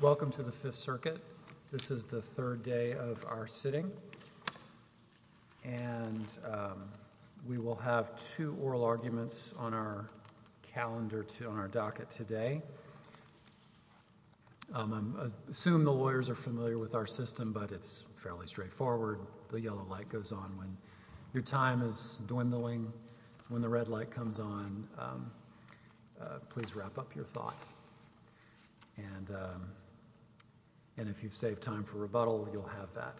Welcome to the Fifth Circuit. This is the third day of our sitting, and we will have two oral arguments on our calendar on our docket today. I assume the lawyers are familiar with our system, but it's fairly straightforward. The yellow light goes on when your time is dwindling. When the red light comes on, please wrap up your thought, and if you've saved time for rebuttal, you'll have that.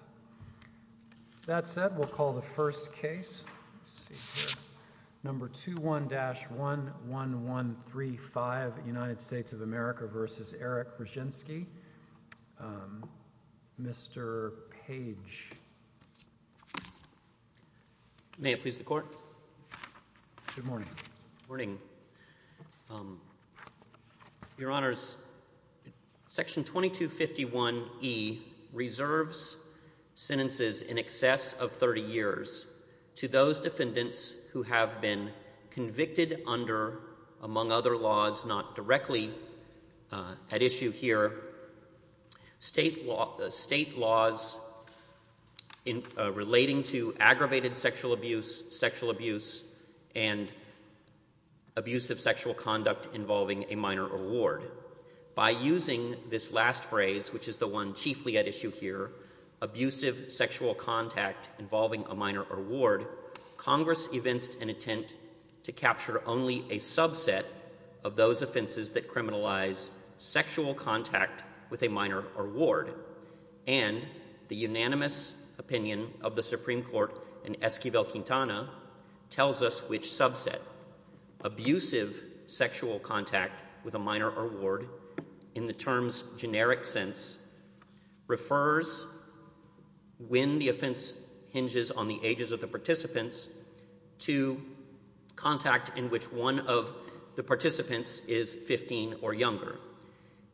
That said, we'll call the first case. Number 21-11135, United States of America v. Eric Grzywinski. Mr. Page. May it please the Court. Good morning. Your Honors, Section 2251e reserves sentences in excess of 30 years to those defendants who have been convicted under, among other laws, not directly at issue here, state laws relating to aggravated sexual abuse, sexual abuse, and abusive sexual conduct involving a minor or ward. By using this last phrase, which is the one chiefly at issue here, abusive sexual contact involving a minor or ward, Congress evinced an intent to capture only a subset of those offenses that the unanimous opinion of the Supreme Court in Esquivel-Quintana tells us which subset. Abusive sexual contact with a minor or ward, in the term's generic sense, refers when the offense hinges on the ages of the participants to contact in which one of the participants is 15 or younger.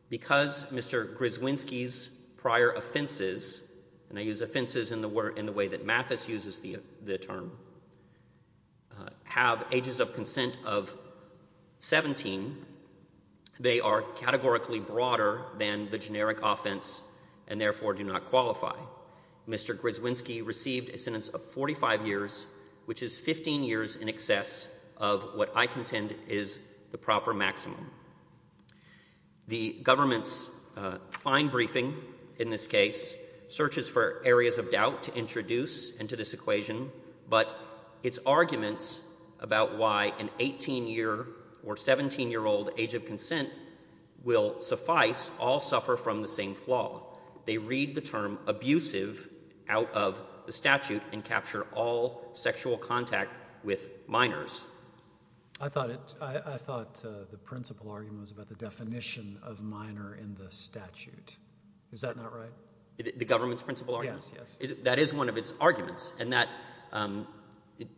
Because Mr. Grzywinski's prior offenses, and I use offenses in the way that Mathis uses the term, have ages of consent of 17, they are categorically broader than the generic offense and therefore do not qualify. Mr. Grzywinski received a sentence of 45 years, which is 15 years in excess of what I contend is the proper maximum. The government's fine briefing in this case searches for areas of doubt to introduce into this equation, but its arguments about why an 18-year or 17-year-old age of consent will suffice all suffer from the same flaw. They read the term abusive out of the statute and capture all sexual contact with minors. I thought the principal argument was about the definition of minor in the statute. Is that not right? The government's principal argument? Yes, yes. That is one of its arguments, and that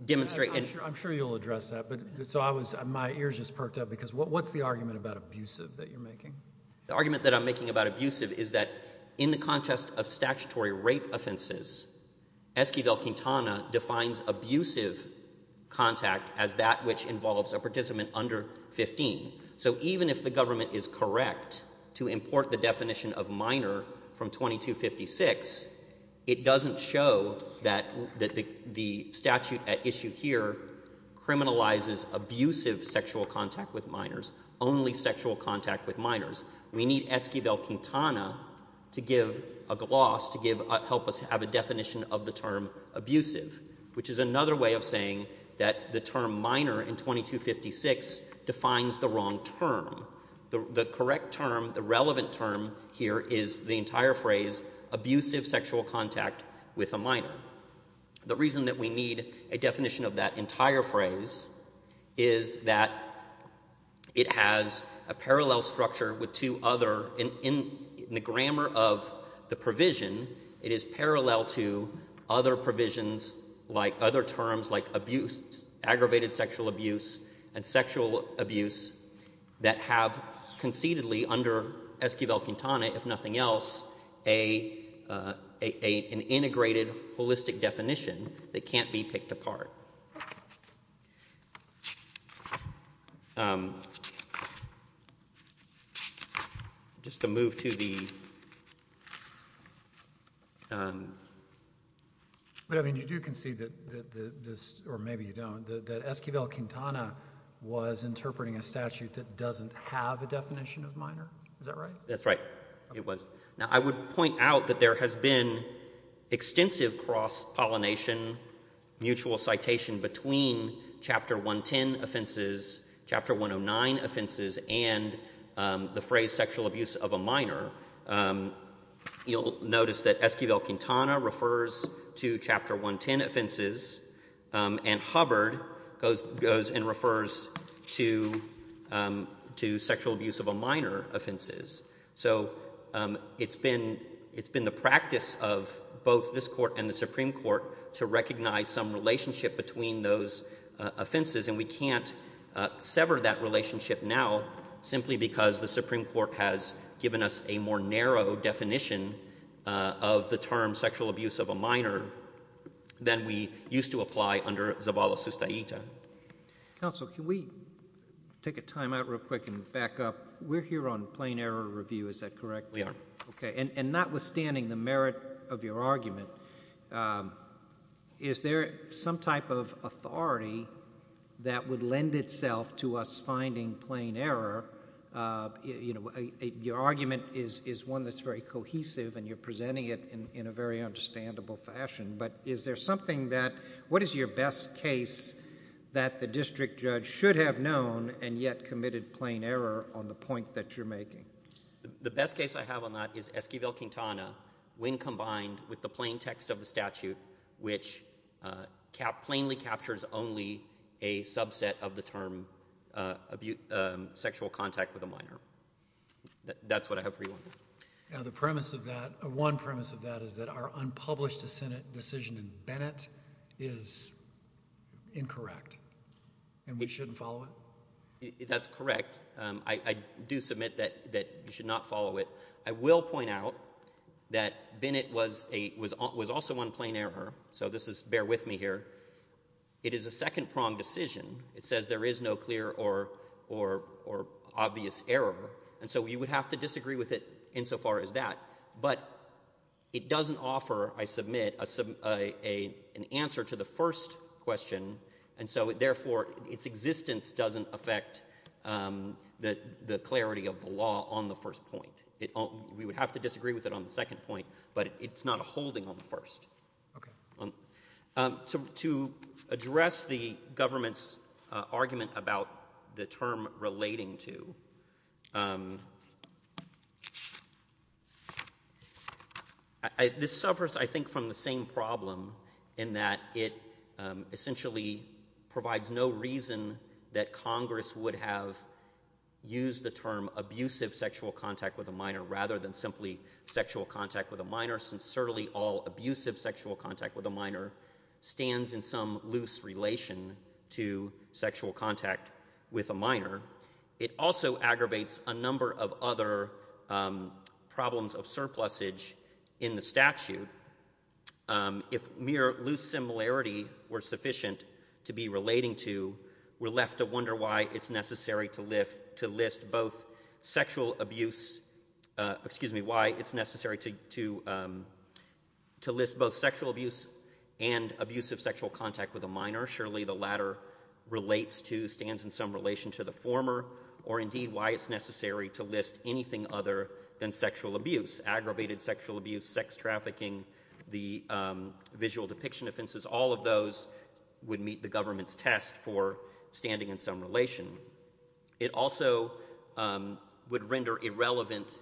demonstrates... I'm sure you'll address that, but my ears just perked up because what's the argument about abusive that you're making? The argument that I'm making about abusive is that in the context of statutory rape offenses, Esquivel-Quintana defines abusive contact as that which involves a participant under 15. So even if the government is correct to import the definition of minor from 2256, it doesn't show that the statute at issue here criminalizes abusive sexual contact with minors, only sexual contact with minors. We need Esquivel-Quintana to give a gloss, to help us have a definition of the term abusive, which is another way of saying that the term minor in 2256 defines the wrong term. The correct term, the relevant term here is the entire phrase, abusive sexual contact with a minor. The reason that we need a definition of that entire phrase is that it has a parallel structure with two other... In the grammar of the provision, it is parallel to other provisions like other terms like abuse, aggravated sexual abuse and sexual abuse that have concededly under Esquivel-Quintana, if nothing else, an integrated holistic definition that can't be denied. Just to move to the... But, I mean, you do concede that this, or maybe you don't, that Esquivel-Quintana was interpreting a statute that doesn't have a definition of minor. Is that right? That's right. It was. Now, I would point out that there has been extensive cross-pollination, mutual citation between Chapter 110 offenses, Chapter 109 offenses, and the phrase sexual abuse of a minor. You'll notice that Esquivel-Quintana refers to Chapter 110 offenses, and Hubbard goes and refers to sexual abuse of a minor offenses. So, it's been the practice of both this Court and the Supreme Court to recognize some relationship between those offenses, and we can't sever that relationship now simply because the Supreme Court has given us a more narrow definition of the term sexual abuse of a minor than we used to apply under Zavala-Sustaita. Counsel, can we take a timeout real quick and back up? We're here on plain error review. Is that right? Is there some type of authority that would lend itself to us finding plain error? Your argument is one that's very cohesive, and you're presenting it in a very understandable fashion, but is there something that, what is your best case that the district judge should have known and yet committed plain error on the point that you're making? The best case I have on that is Esquivel-Quintana when combined with the plain text of the statute, which plainly captures only a subset of the term sexual contact with a minor. That's what I have for you on that. Now, the premise of that, one premise of that is that our unpublished decision in Bennett is incorrect, and we shouldn't follow it? That's correct. I do submit that you should not follow it. I will point out that Bennett was also on plain error, so bear with me here. It is a second-pronged decision. It says there is no clear or obvious error, and so we would have to disagree with it insofar as that, but it doesn't offer, I submit, an answer to the first question, and so therefore its existence doesn't affect the clarity of the law on the first point. We would have to disagree with it on the second point, but it's not a holding on the first. To address the government's argument about the term relating to, this suffers, I think, from the same problem in that it essentially provides no reason that Congress would have used the term abusive sexual contact with a minor rather than simply sexual contact with a minor, since certainly all abusive sexual contact with a minor stands in some loose relation to sexual contact with a minor. It also aggravates a number of other problems of surplusage in the statute. If mere loose similarity were sufficient to be relating to, we're left to wonder why it's necessary to list both sexual abuse and abusive sexual contact with a minor. Surely the latter relates to, stands in some relation to the former, or indeed why it's necessary to list anything other than sexual abuse. Aggravated sexual abuse, sex trafficking, the visual depiction offenses, all of those would meet the government's test for standing in some relation. It also would render irrelevant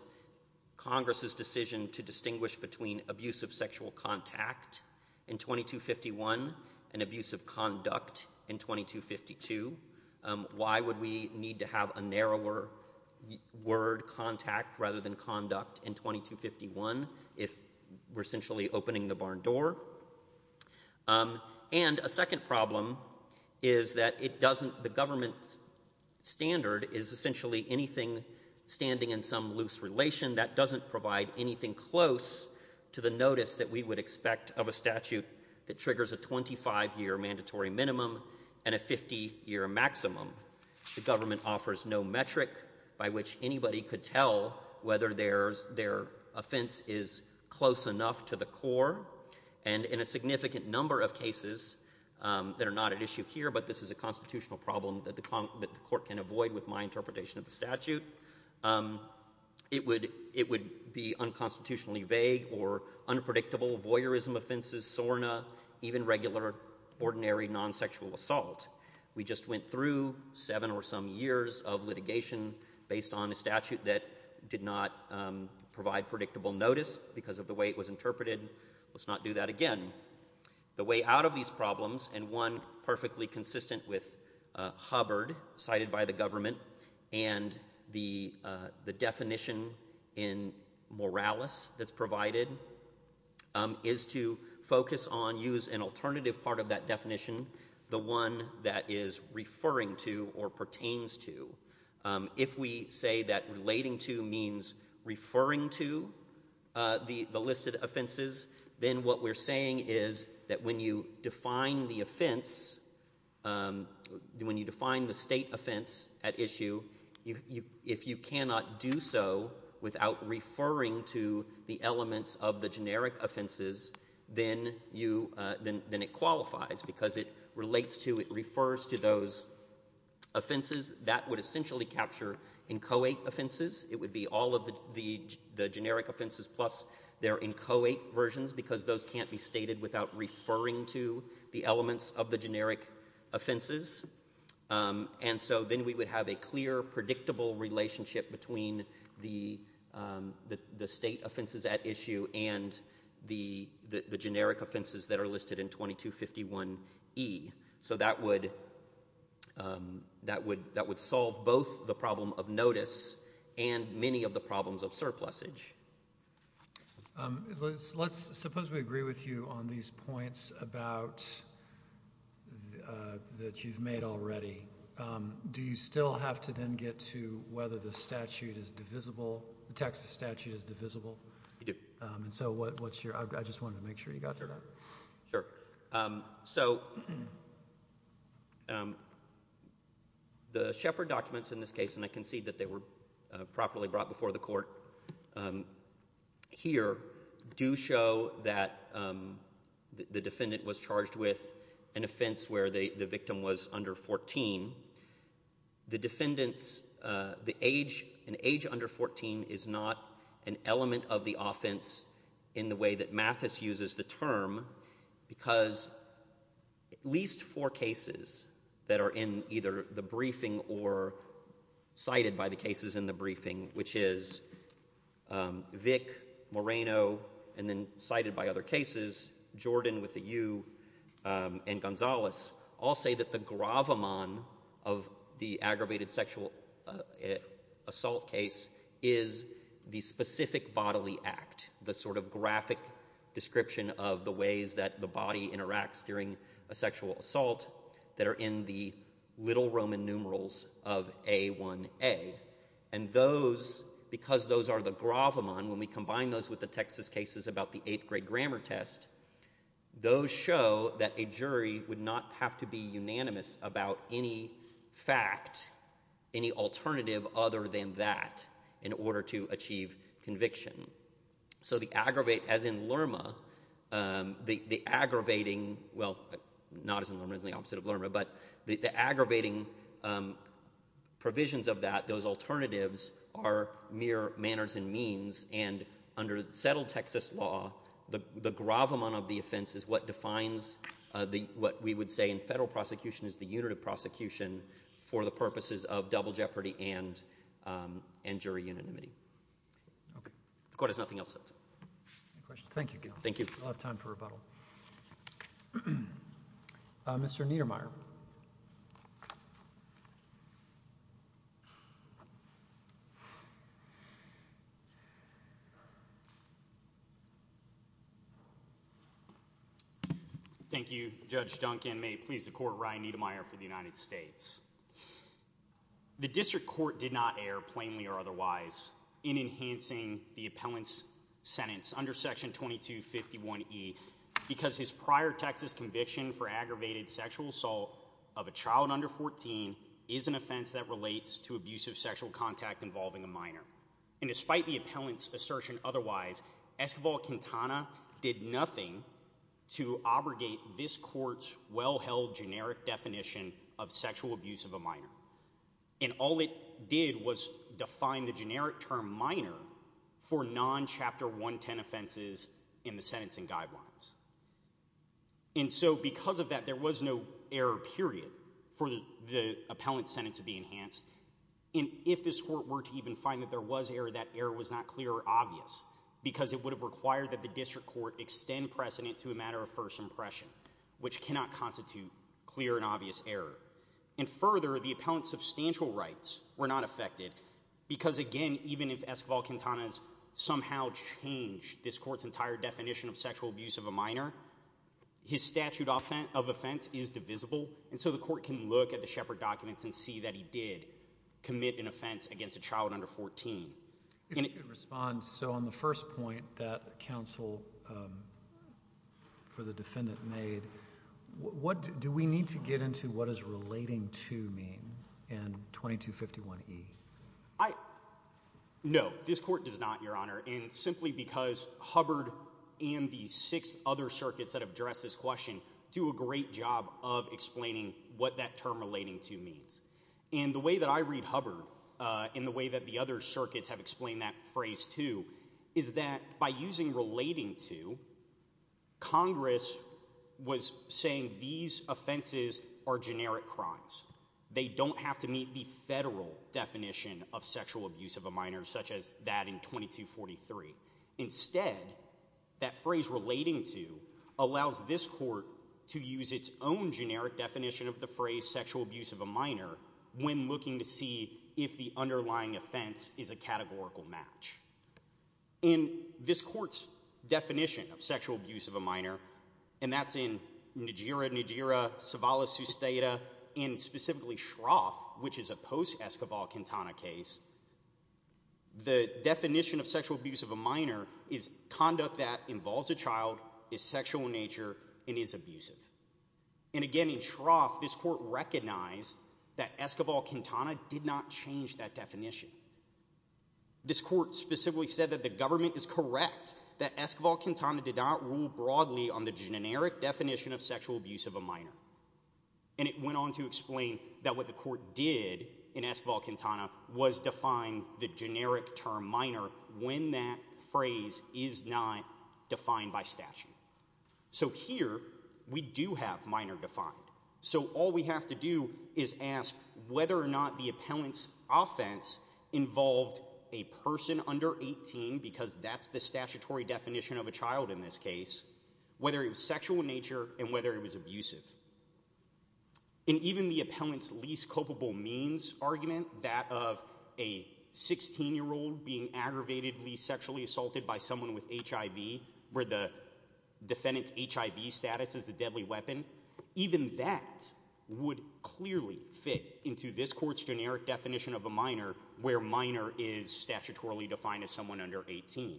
Congress's decision to distinguish between abusive sexual contact in 2252. Why would we need to have a narrower word, contact, rather than conduct in 2251 if we're essentially opening the barn door? And a second problem is that it doesn't, the government's standard is essentially anything standing in some loose relation that doesn't provide anything close to the notice that we would expect of a statute that triggers a 25-year mandatory minimum and a 50-year maximum. The government offers no metric by which anybody could tell whether their offense is close enough to the core. And in a significant number of cases that are not at issue here, but this is a constitutional problem that the court can avoid with my interpretation of the statute, it would be unconstitutionally vague or unpredictable, voyeurism offenses, SORNA, even regular ordinary non-sexual assault. We just went through seven or some years of litigation based on a statute that did not provide predictable notice because of the way it was interpreted. Let's not do that again. The way out of these problems, and one perfectly consistent with Hubbard, cited by the government, and the definition in Morales that's provided, is to focus on, use an alternative part of that definition, the one that is referring to or pertains to. If we say that relating to means referring to the listed offenses, then what we're saying is that when you define the offense, when you define the state offense at issue, if you cannot do so without referring to the elements of the generic offenses, then it qualifies because it relates to, it refers to those offenses. That would essentially capture inchoate offenses. It would be all of the generic offenses plus their inchoate versions because those can't be stated without referring to the elements of the generic offenses. Then we would have a clear, predictable relationship between the state offenses at issue and the generic offenses that are listed in 2251E. That would solve both the problem of notice and many of the problems of surplusage. Let's suppose we agree with you on these points that you've made already. Do you still have to then get to whether the statute is divisible, the Texas statute is divisible? You do. I just wanted to make sure you got that. Sure. So the Shepard documents in this case, and I concede that they were properly brought before the court here, do show that the defendant was charged with an offense where the victim was under 14. The defendants, an age under 14 is not an element of the offense in the way that Mathis uses the term because at least four cases that are in either the briefing or cited by the cases in the briefing, which is Vick, Moreno, and then cited by other cases, Jordan with a U, and Gonzales, all say that the gravamon of the aggravated sexual assault case is the specific bodily act, the sort of graphic description of the ways that the body interacts during a sexual assault that are in the little Roman numerals of A1A. And those, because those are the gravamon, when we combine those with the Texas cases about the eighth grade grammar test, those show that a jury would not have to be unanimous about any fact, any alternative other than that in order to achieve conviction. So the aggravate, as in Lerma, the aggravating, well, not as in Lerma, as in the opposite of Lerma, but the aggravating provisions of that, those alternatives are mere manners and means, and under settled Texas law, the gravamon of the offense is what defines what we would say in federal prosecution is the unit of prosecution for the purposes of double jeopardy and jury unanimity. Thank you. Mr. Niedermeier. Thank you, Judge Duncan. May it please the Court, Ryan Niedermeier for the United States. The district court did not err, plainly or otherwise, in enhancing the appellant's sentence under section 2251E because his prior Texas conviction for aggravated sexual assault of a child under 14 is an offense that relates to abusive sexual contact involving a minor. And despite the appellant's assertion otherwise, Esquivel-Quintana did nothing to abrogate this court's well-held generic definition of sexual abuse. And all it did was define the generic term minor for non-Chapter 110 offenses in the sentencing guidelines. And so because of that, there was no error, period, for the appellant's sentence to be enhanced. And if this court were to even find that there was error, that error was not clear or obvious because it would have required that the district court extend precedent to a matter of first impression, which cannot constitute clear and obvious error. And further, the appellant's substantial rights were not affected because, again, even if Esquivel-Quintana somehow changed this court's entire definition of sexual abuse of a minor, his statute of offense is divisible. And so the court can look at the Shepard documents and see that he did commit an offense against a child under 14. If you could respond. So on the first point that counsel, for the defendant, made, do we need to get into what does relating to mean in 2251E? No, this court does not, Your Honor, and simply because Hubbard and the six other circuits that have addressed this question do a great job of explaining what that term relating to means. And the way that I read Hubbard and the way that the other circuits have explained that phrase, too, is that by using the phrase relating to, Congress was saying these offenses are generic crimes. They don't have to meet the federal definition of sexual abuse of a minor, such as that in 2243. Instead, that phrase relating to allows this court to use its own generic definition of the phrase sexual abuse of a minor when looking to see if the underlying offense is a categorical match. In this court's definition of sexual abuse of a minor, and that's in Najeera, Najeera, Savala, Sustaita, and specifically Shroff, which is a post-Escobar-Quintana case, the definition of sexual abuse of a minor is conduct that involves a child, is sexual in nature, and is abusive. And again, in Shroff, this court recognized that Escobar-Quintana did not change that definition. This court specifically said that the government is correct, that Escobar-Quintana did not rule broadly on the generic definition of sexual abuse of a minor. And it went on to explain that what the court did in Escobar-Quintana was define the generic term minor when that phrase is not defined by statute. So here, we do have minor defined. So all we have to do is ask whether or not the appellant's offense involved a person under 18, because that's the statutory definition of a child in this case, whether it was sexual in nature and whether it was abusive. And even the appellant's least culpable means argument, that of a 16-year-old being aggravatedly sexually assaulted by someone with HIV, where the defendant's HIV status is a deadly weapon, even that would clearly fit into this generic definition of a minor where minor is statutorily defined as someone under 18.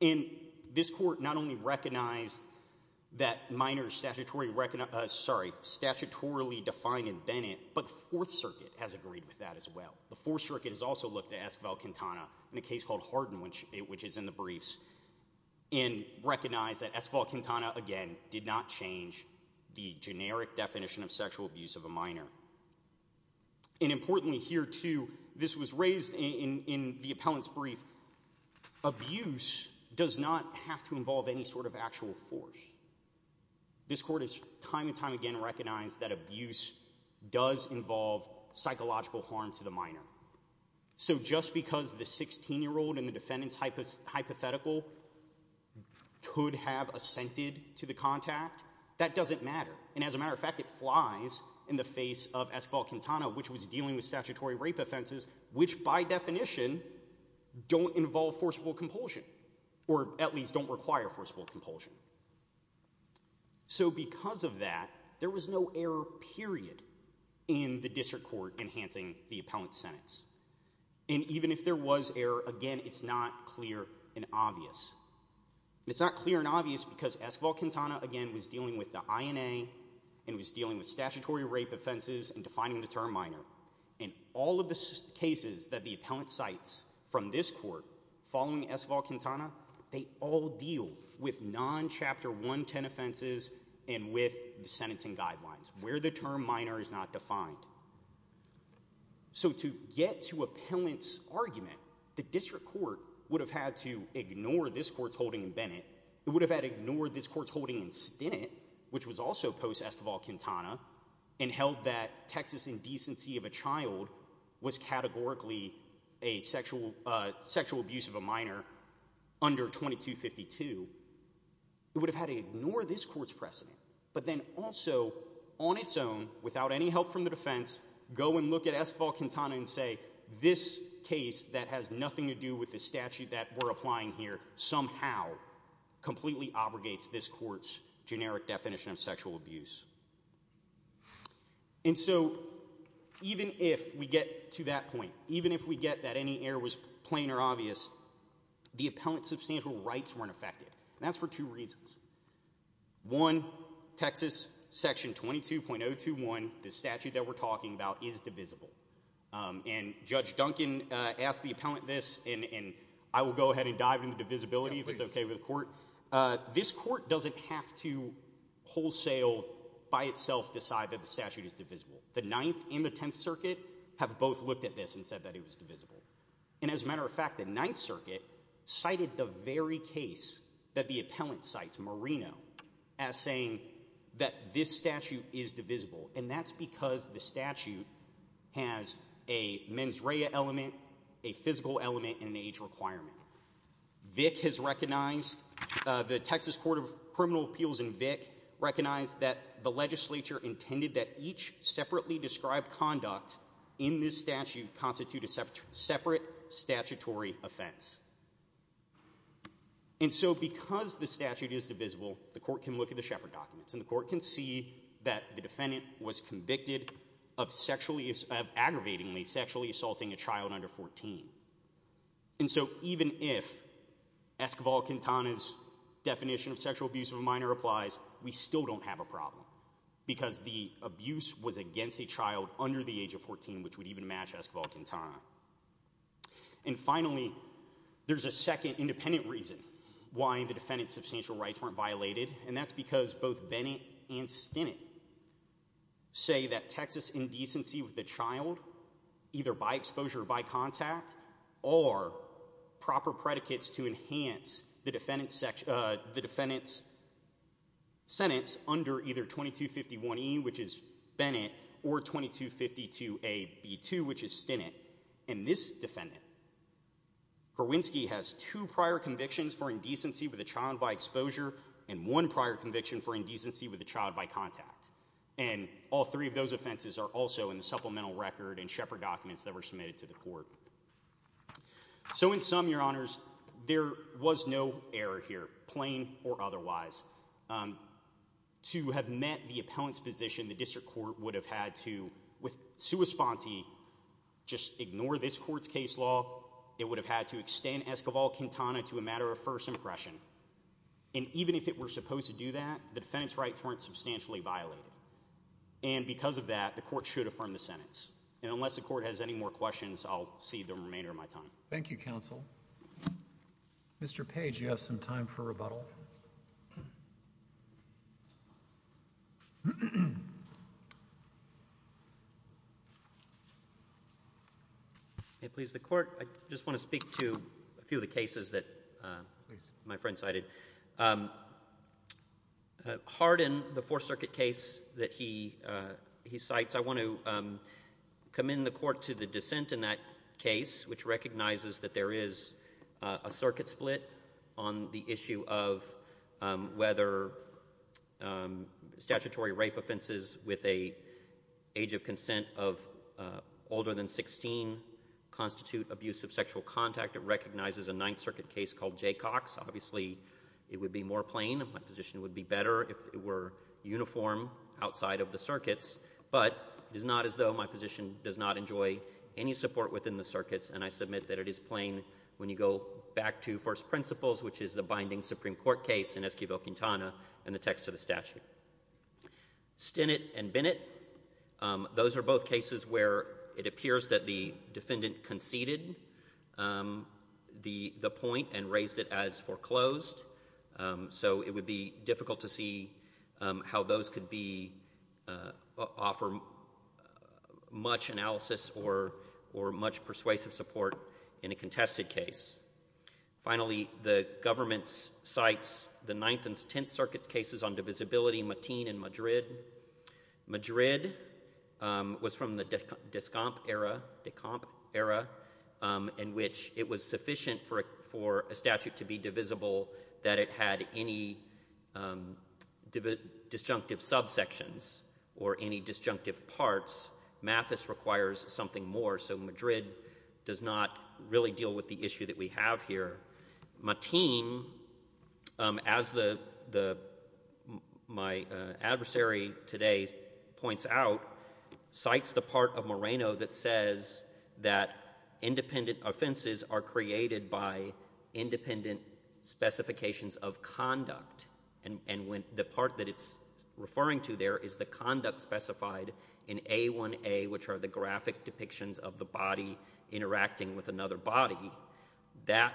And this court not only recognized that minor is statutorily defined in Bennett, but the Fourth Circuit has agreed with that as well. The Fourth Circuit has also looked at Escobar-Quintana in a case called Hardin, which is in the briefs, and recognized that Escobar-Quintana, again, did not change the generic definition of sexual abuse of a minor. And importantly here, too, this was raised in the appellant's brief, abuse does not have to involve any sort of actual force. This court has time and time again recognized that abuse does involve psychological harm to the minor. So just because the 16-year-old and the defendant's hypothetical could have assented to the contact, that doesn't matter. And as a matter of fact, it flies in the face of Escobar-Quintana, which was dealing with statutory rape offenses, which by definition don't involve forcible compulsion, or at least don't require forcible compulsion. So because of that, there was no error, period, in the district court enhancing the appellant's sentence. And even if there was error, again, it's not clear and obvious. It's not clear and obvious that the defendant was dealing with statutory rape offenses and defining the term minor. In all of the cases that the appellant cites from this court following Escobar-Quintana, they all deal with non-Chapter 110 offenses and with the sentencing guidelines, where the term minor is not defined. So to get to appellant's argument, the district court would have had to ignore this court's holding in Stinnett, which was also post-Escobar-Quintana, and held that Texas indecency of a child was categorically a sexual abuse of a minor under 2252. It would have had to ignore this court's precedent. But then also, on its own, without any help from the defense, go and look at Escobar-Quintana and say, this case that has nothing to do with the statute that we're applying here somehow completely obligates this court's generic definition of sexual abuse. And so, even if we get to that point, even if we get that any error was plain or obvious, the appellant's substantial rights weren't affected. And that's for two reasons. One, Texas section 22.021, the statute that we're talking about, is divisible. And Judge Duncan asked the appellant this, and I will go ahead and dive into divisibility if it's okay with the court. This court doesn't have to wholesale by itself decide that the statute is divisible. The Ninth and the Tenth Circuit have both looked at this and said that it was divisible. And as a matter of fact, the Ninth Circuit cited the very case that the appellant cites, Moreno, as saying that this statute is divisible. And that's because the statute has a mens rea element, a physical element, and an age requirement. Vic has recognized, the Texas Court of Criminal Appeals in Vic, recognized that the legislature intended that each separately described conduct in this statute constitute a separate statutory offense. And so, because the statute is divisible, the court can look at the Shepard documents, and the court can see that the defendant was convicted of sexually, of assaulting a child under 14. And so, even if Esquivel-Quintana's definition of sexual abuse of a minor applies, we still don't have a problem. Because the abuse was against a child under the age of 14, which would even match Esquivel-Quintana. And finally, there's a second independent reason why the defendant's substantial rights weren't violated, and that's because both Bennett and Stinnett say that there's a Texas indecency with a child, either by exposure or by contact, or proper predicates to enhance the defendant's sentence under either 2251E, which is Bennett, or 2252AB2, which is Stinnett. And this defendant, Garwinski, has two prior convictions for indecency with a child by exposure, and one prior conviction for indecency with a child by contact. And all three of those offenses are also in the supplemental record and Shepard documents that were submitted to the court. So in sum, Your Honors, there was no error here, plain or otherwise. To have met the appellant's position, the district court would have had to, with sua sponte, just ignore this court's case law. It would have had to extend Esquivel-Quintana to a matter of first impression. And even if it were supposed to do that, the defendant's rights weren't substantially violated. And because of that, the court should affirm the sentence. And unless the court has any more questions, I'll cede the remainder of my time. Thank you, Counsel. Mr. Page, you have some time for rebuttal. May it please the Court. I just want to speak to a few of the cases that my friend cited. Harden, the Fourth Circuit case that he cites, I want to commend the Court to the dissent in that case, which recognizes that there is a circuit split on the issue of whether, you know, whether or not the district court is willing to accept statutory rape offenses with an age of consent of older than 16, constitute abuse of sexual contact. It recognizes a Ninth Circuit case called Jaycox. Obviously, it would be more plain. My position would be better if it were uniform outside of the circuits. But it is not as though my position does not enjoy any support within the circuits. And I submit that it is plain when you go back to First Principles, which is the binding Supreme Court case in Esquivel-Quintana, and the text of the statute. Stinnett and Bennett, those are both cases where it appears that the defendant conceded the point and raised it as foreclosed. So it would be difficult to see how those could be, offer much analysis or much discussion or much persuasive support in a contested case. Finally, the government cites the Ninth and Tenth Circuit cases on divisibility, Matin and Madrid. Madrid was from the Descomp era, in which it was sufficient for a statute to be divisible that it had any disjunctive subsections or any disjunctive parts. Mathis requires something more. So Madrid does not really deal with the issue that we have here. Matin, as my adversary today points out, cites the part of Moreno that says that independent offenses are created by independent specifications of conduct. And the part that it's referring to there is the conduct that is specified in A1A, which are the graphic depictions of the body interacting with another body. That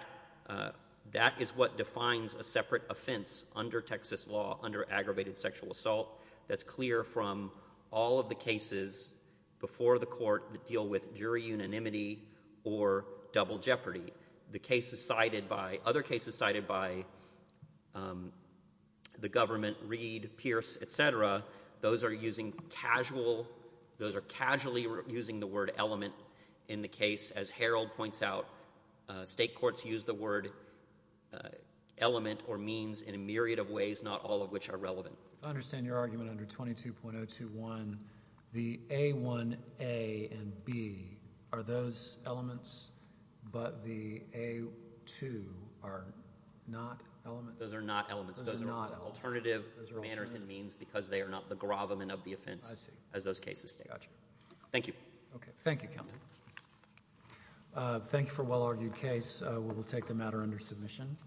is what defines a separate offense under Texas law, under aggravated sexual assault, that's clear from all of the cases before the court that deal with jury unanimity or double jeopardy. Other cases cited by the government, Reed, Pierce, et cetera, those are using capitalized or casual, those are casually using the word element in the case. As Harold points out, state courts use the word element or means in a myriad of ways, not all of which are relevant. If I understand your argument under 22.021, the A1A and B are those elements, but the A2 are not elements? Those are not elements. Those are alternative manners and means because they are not the gravamen of the offense as those cases state. Thank you. Thank you for a well-argued case. We will take the matter under submission.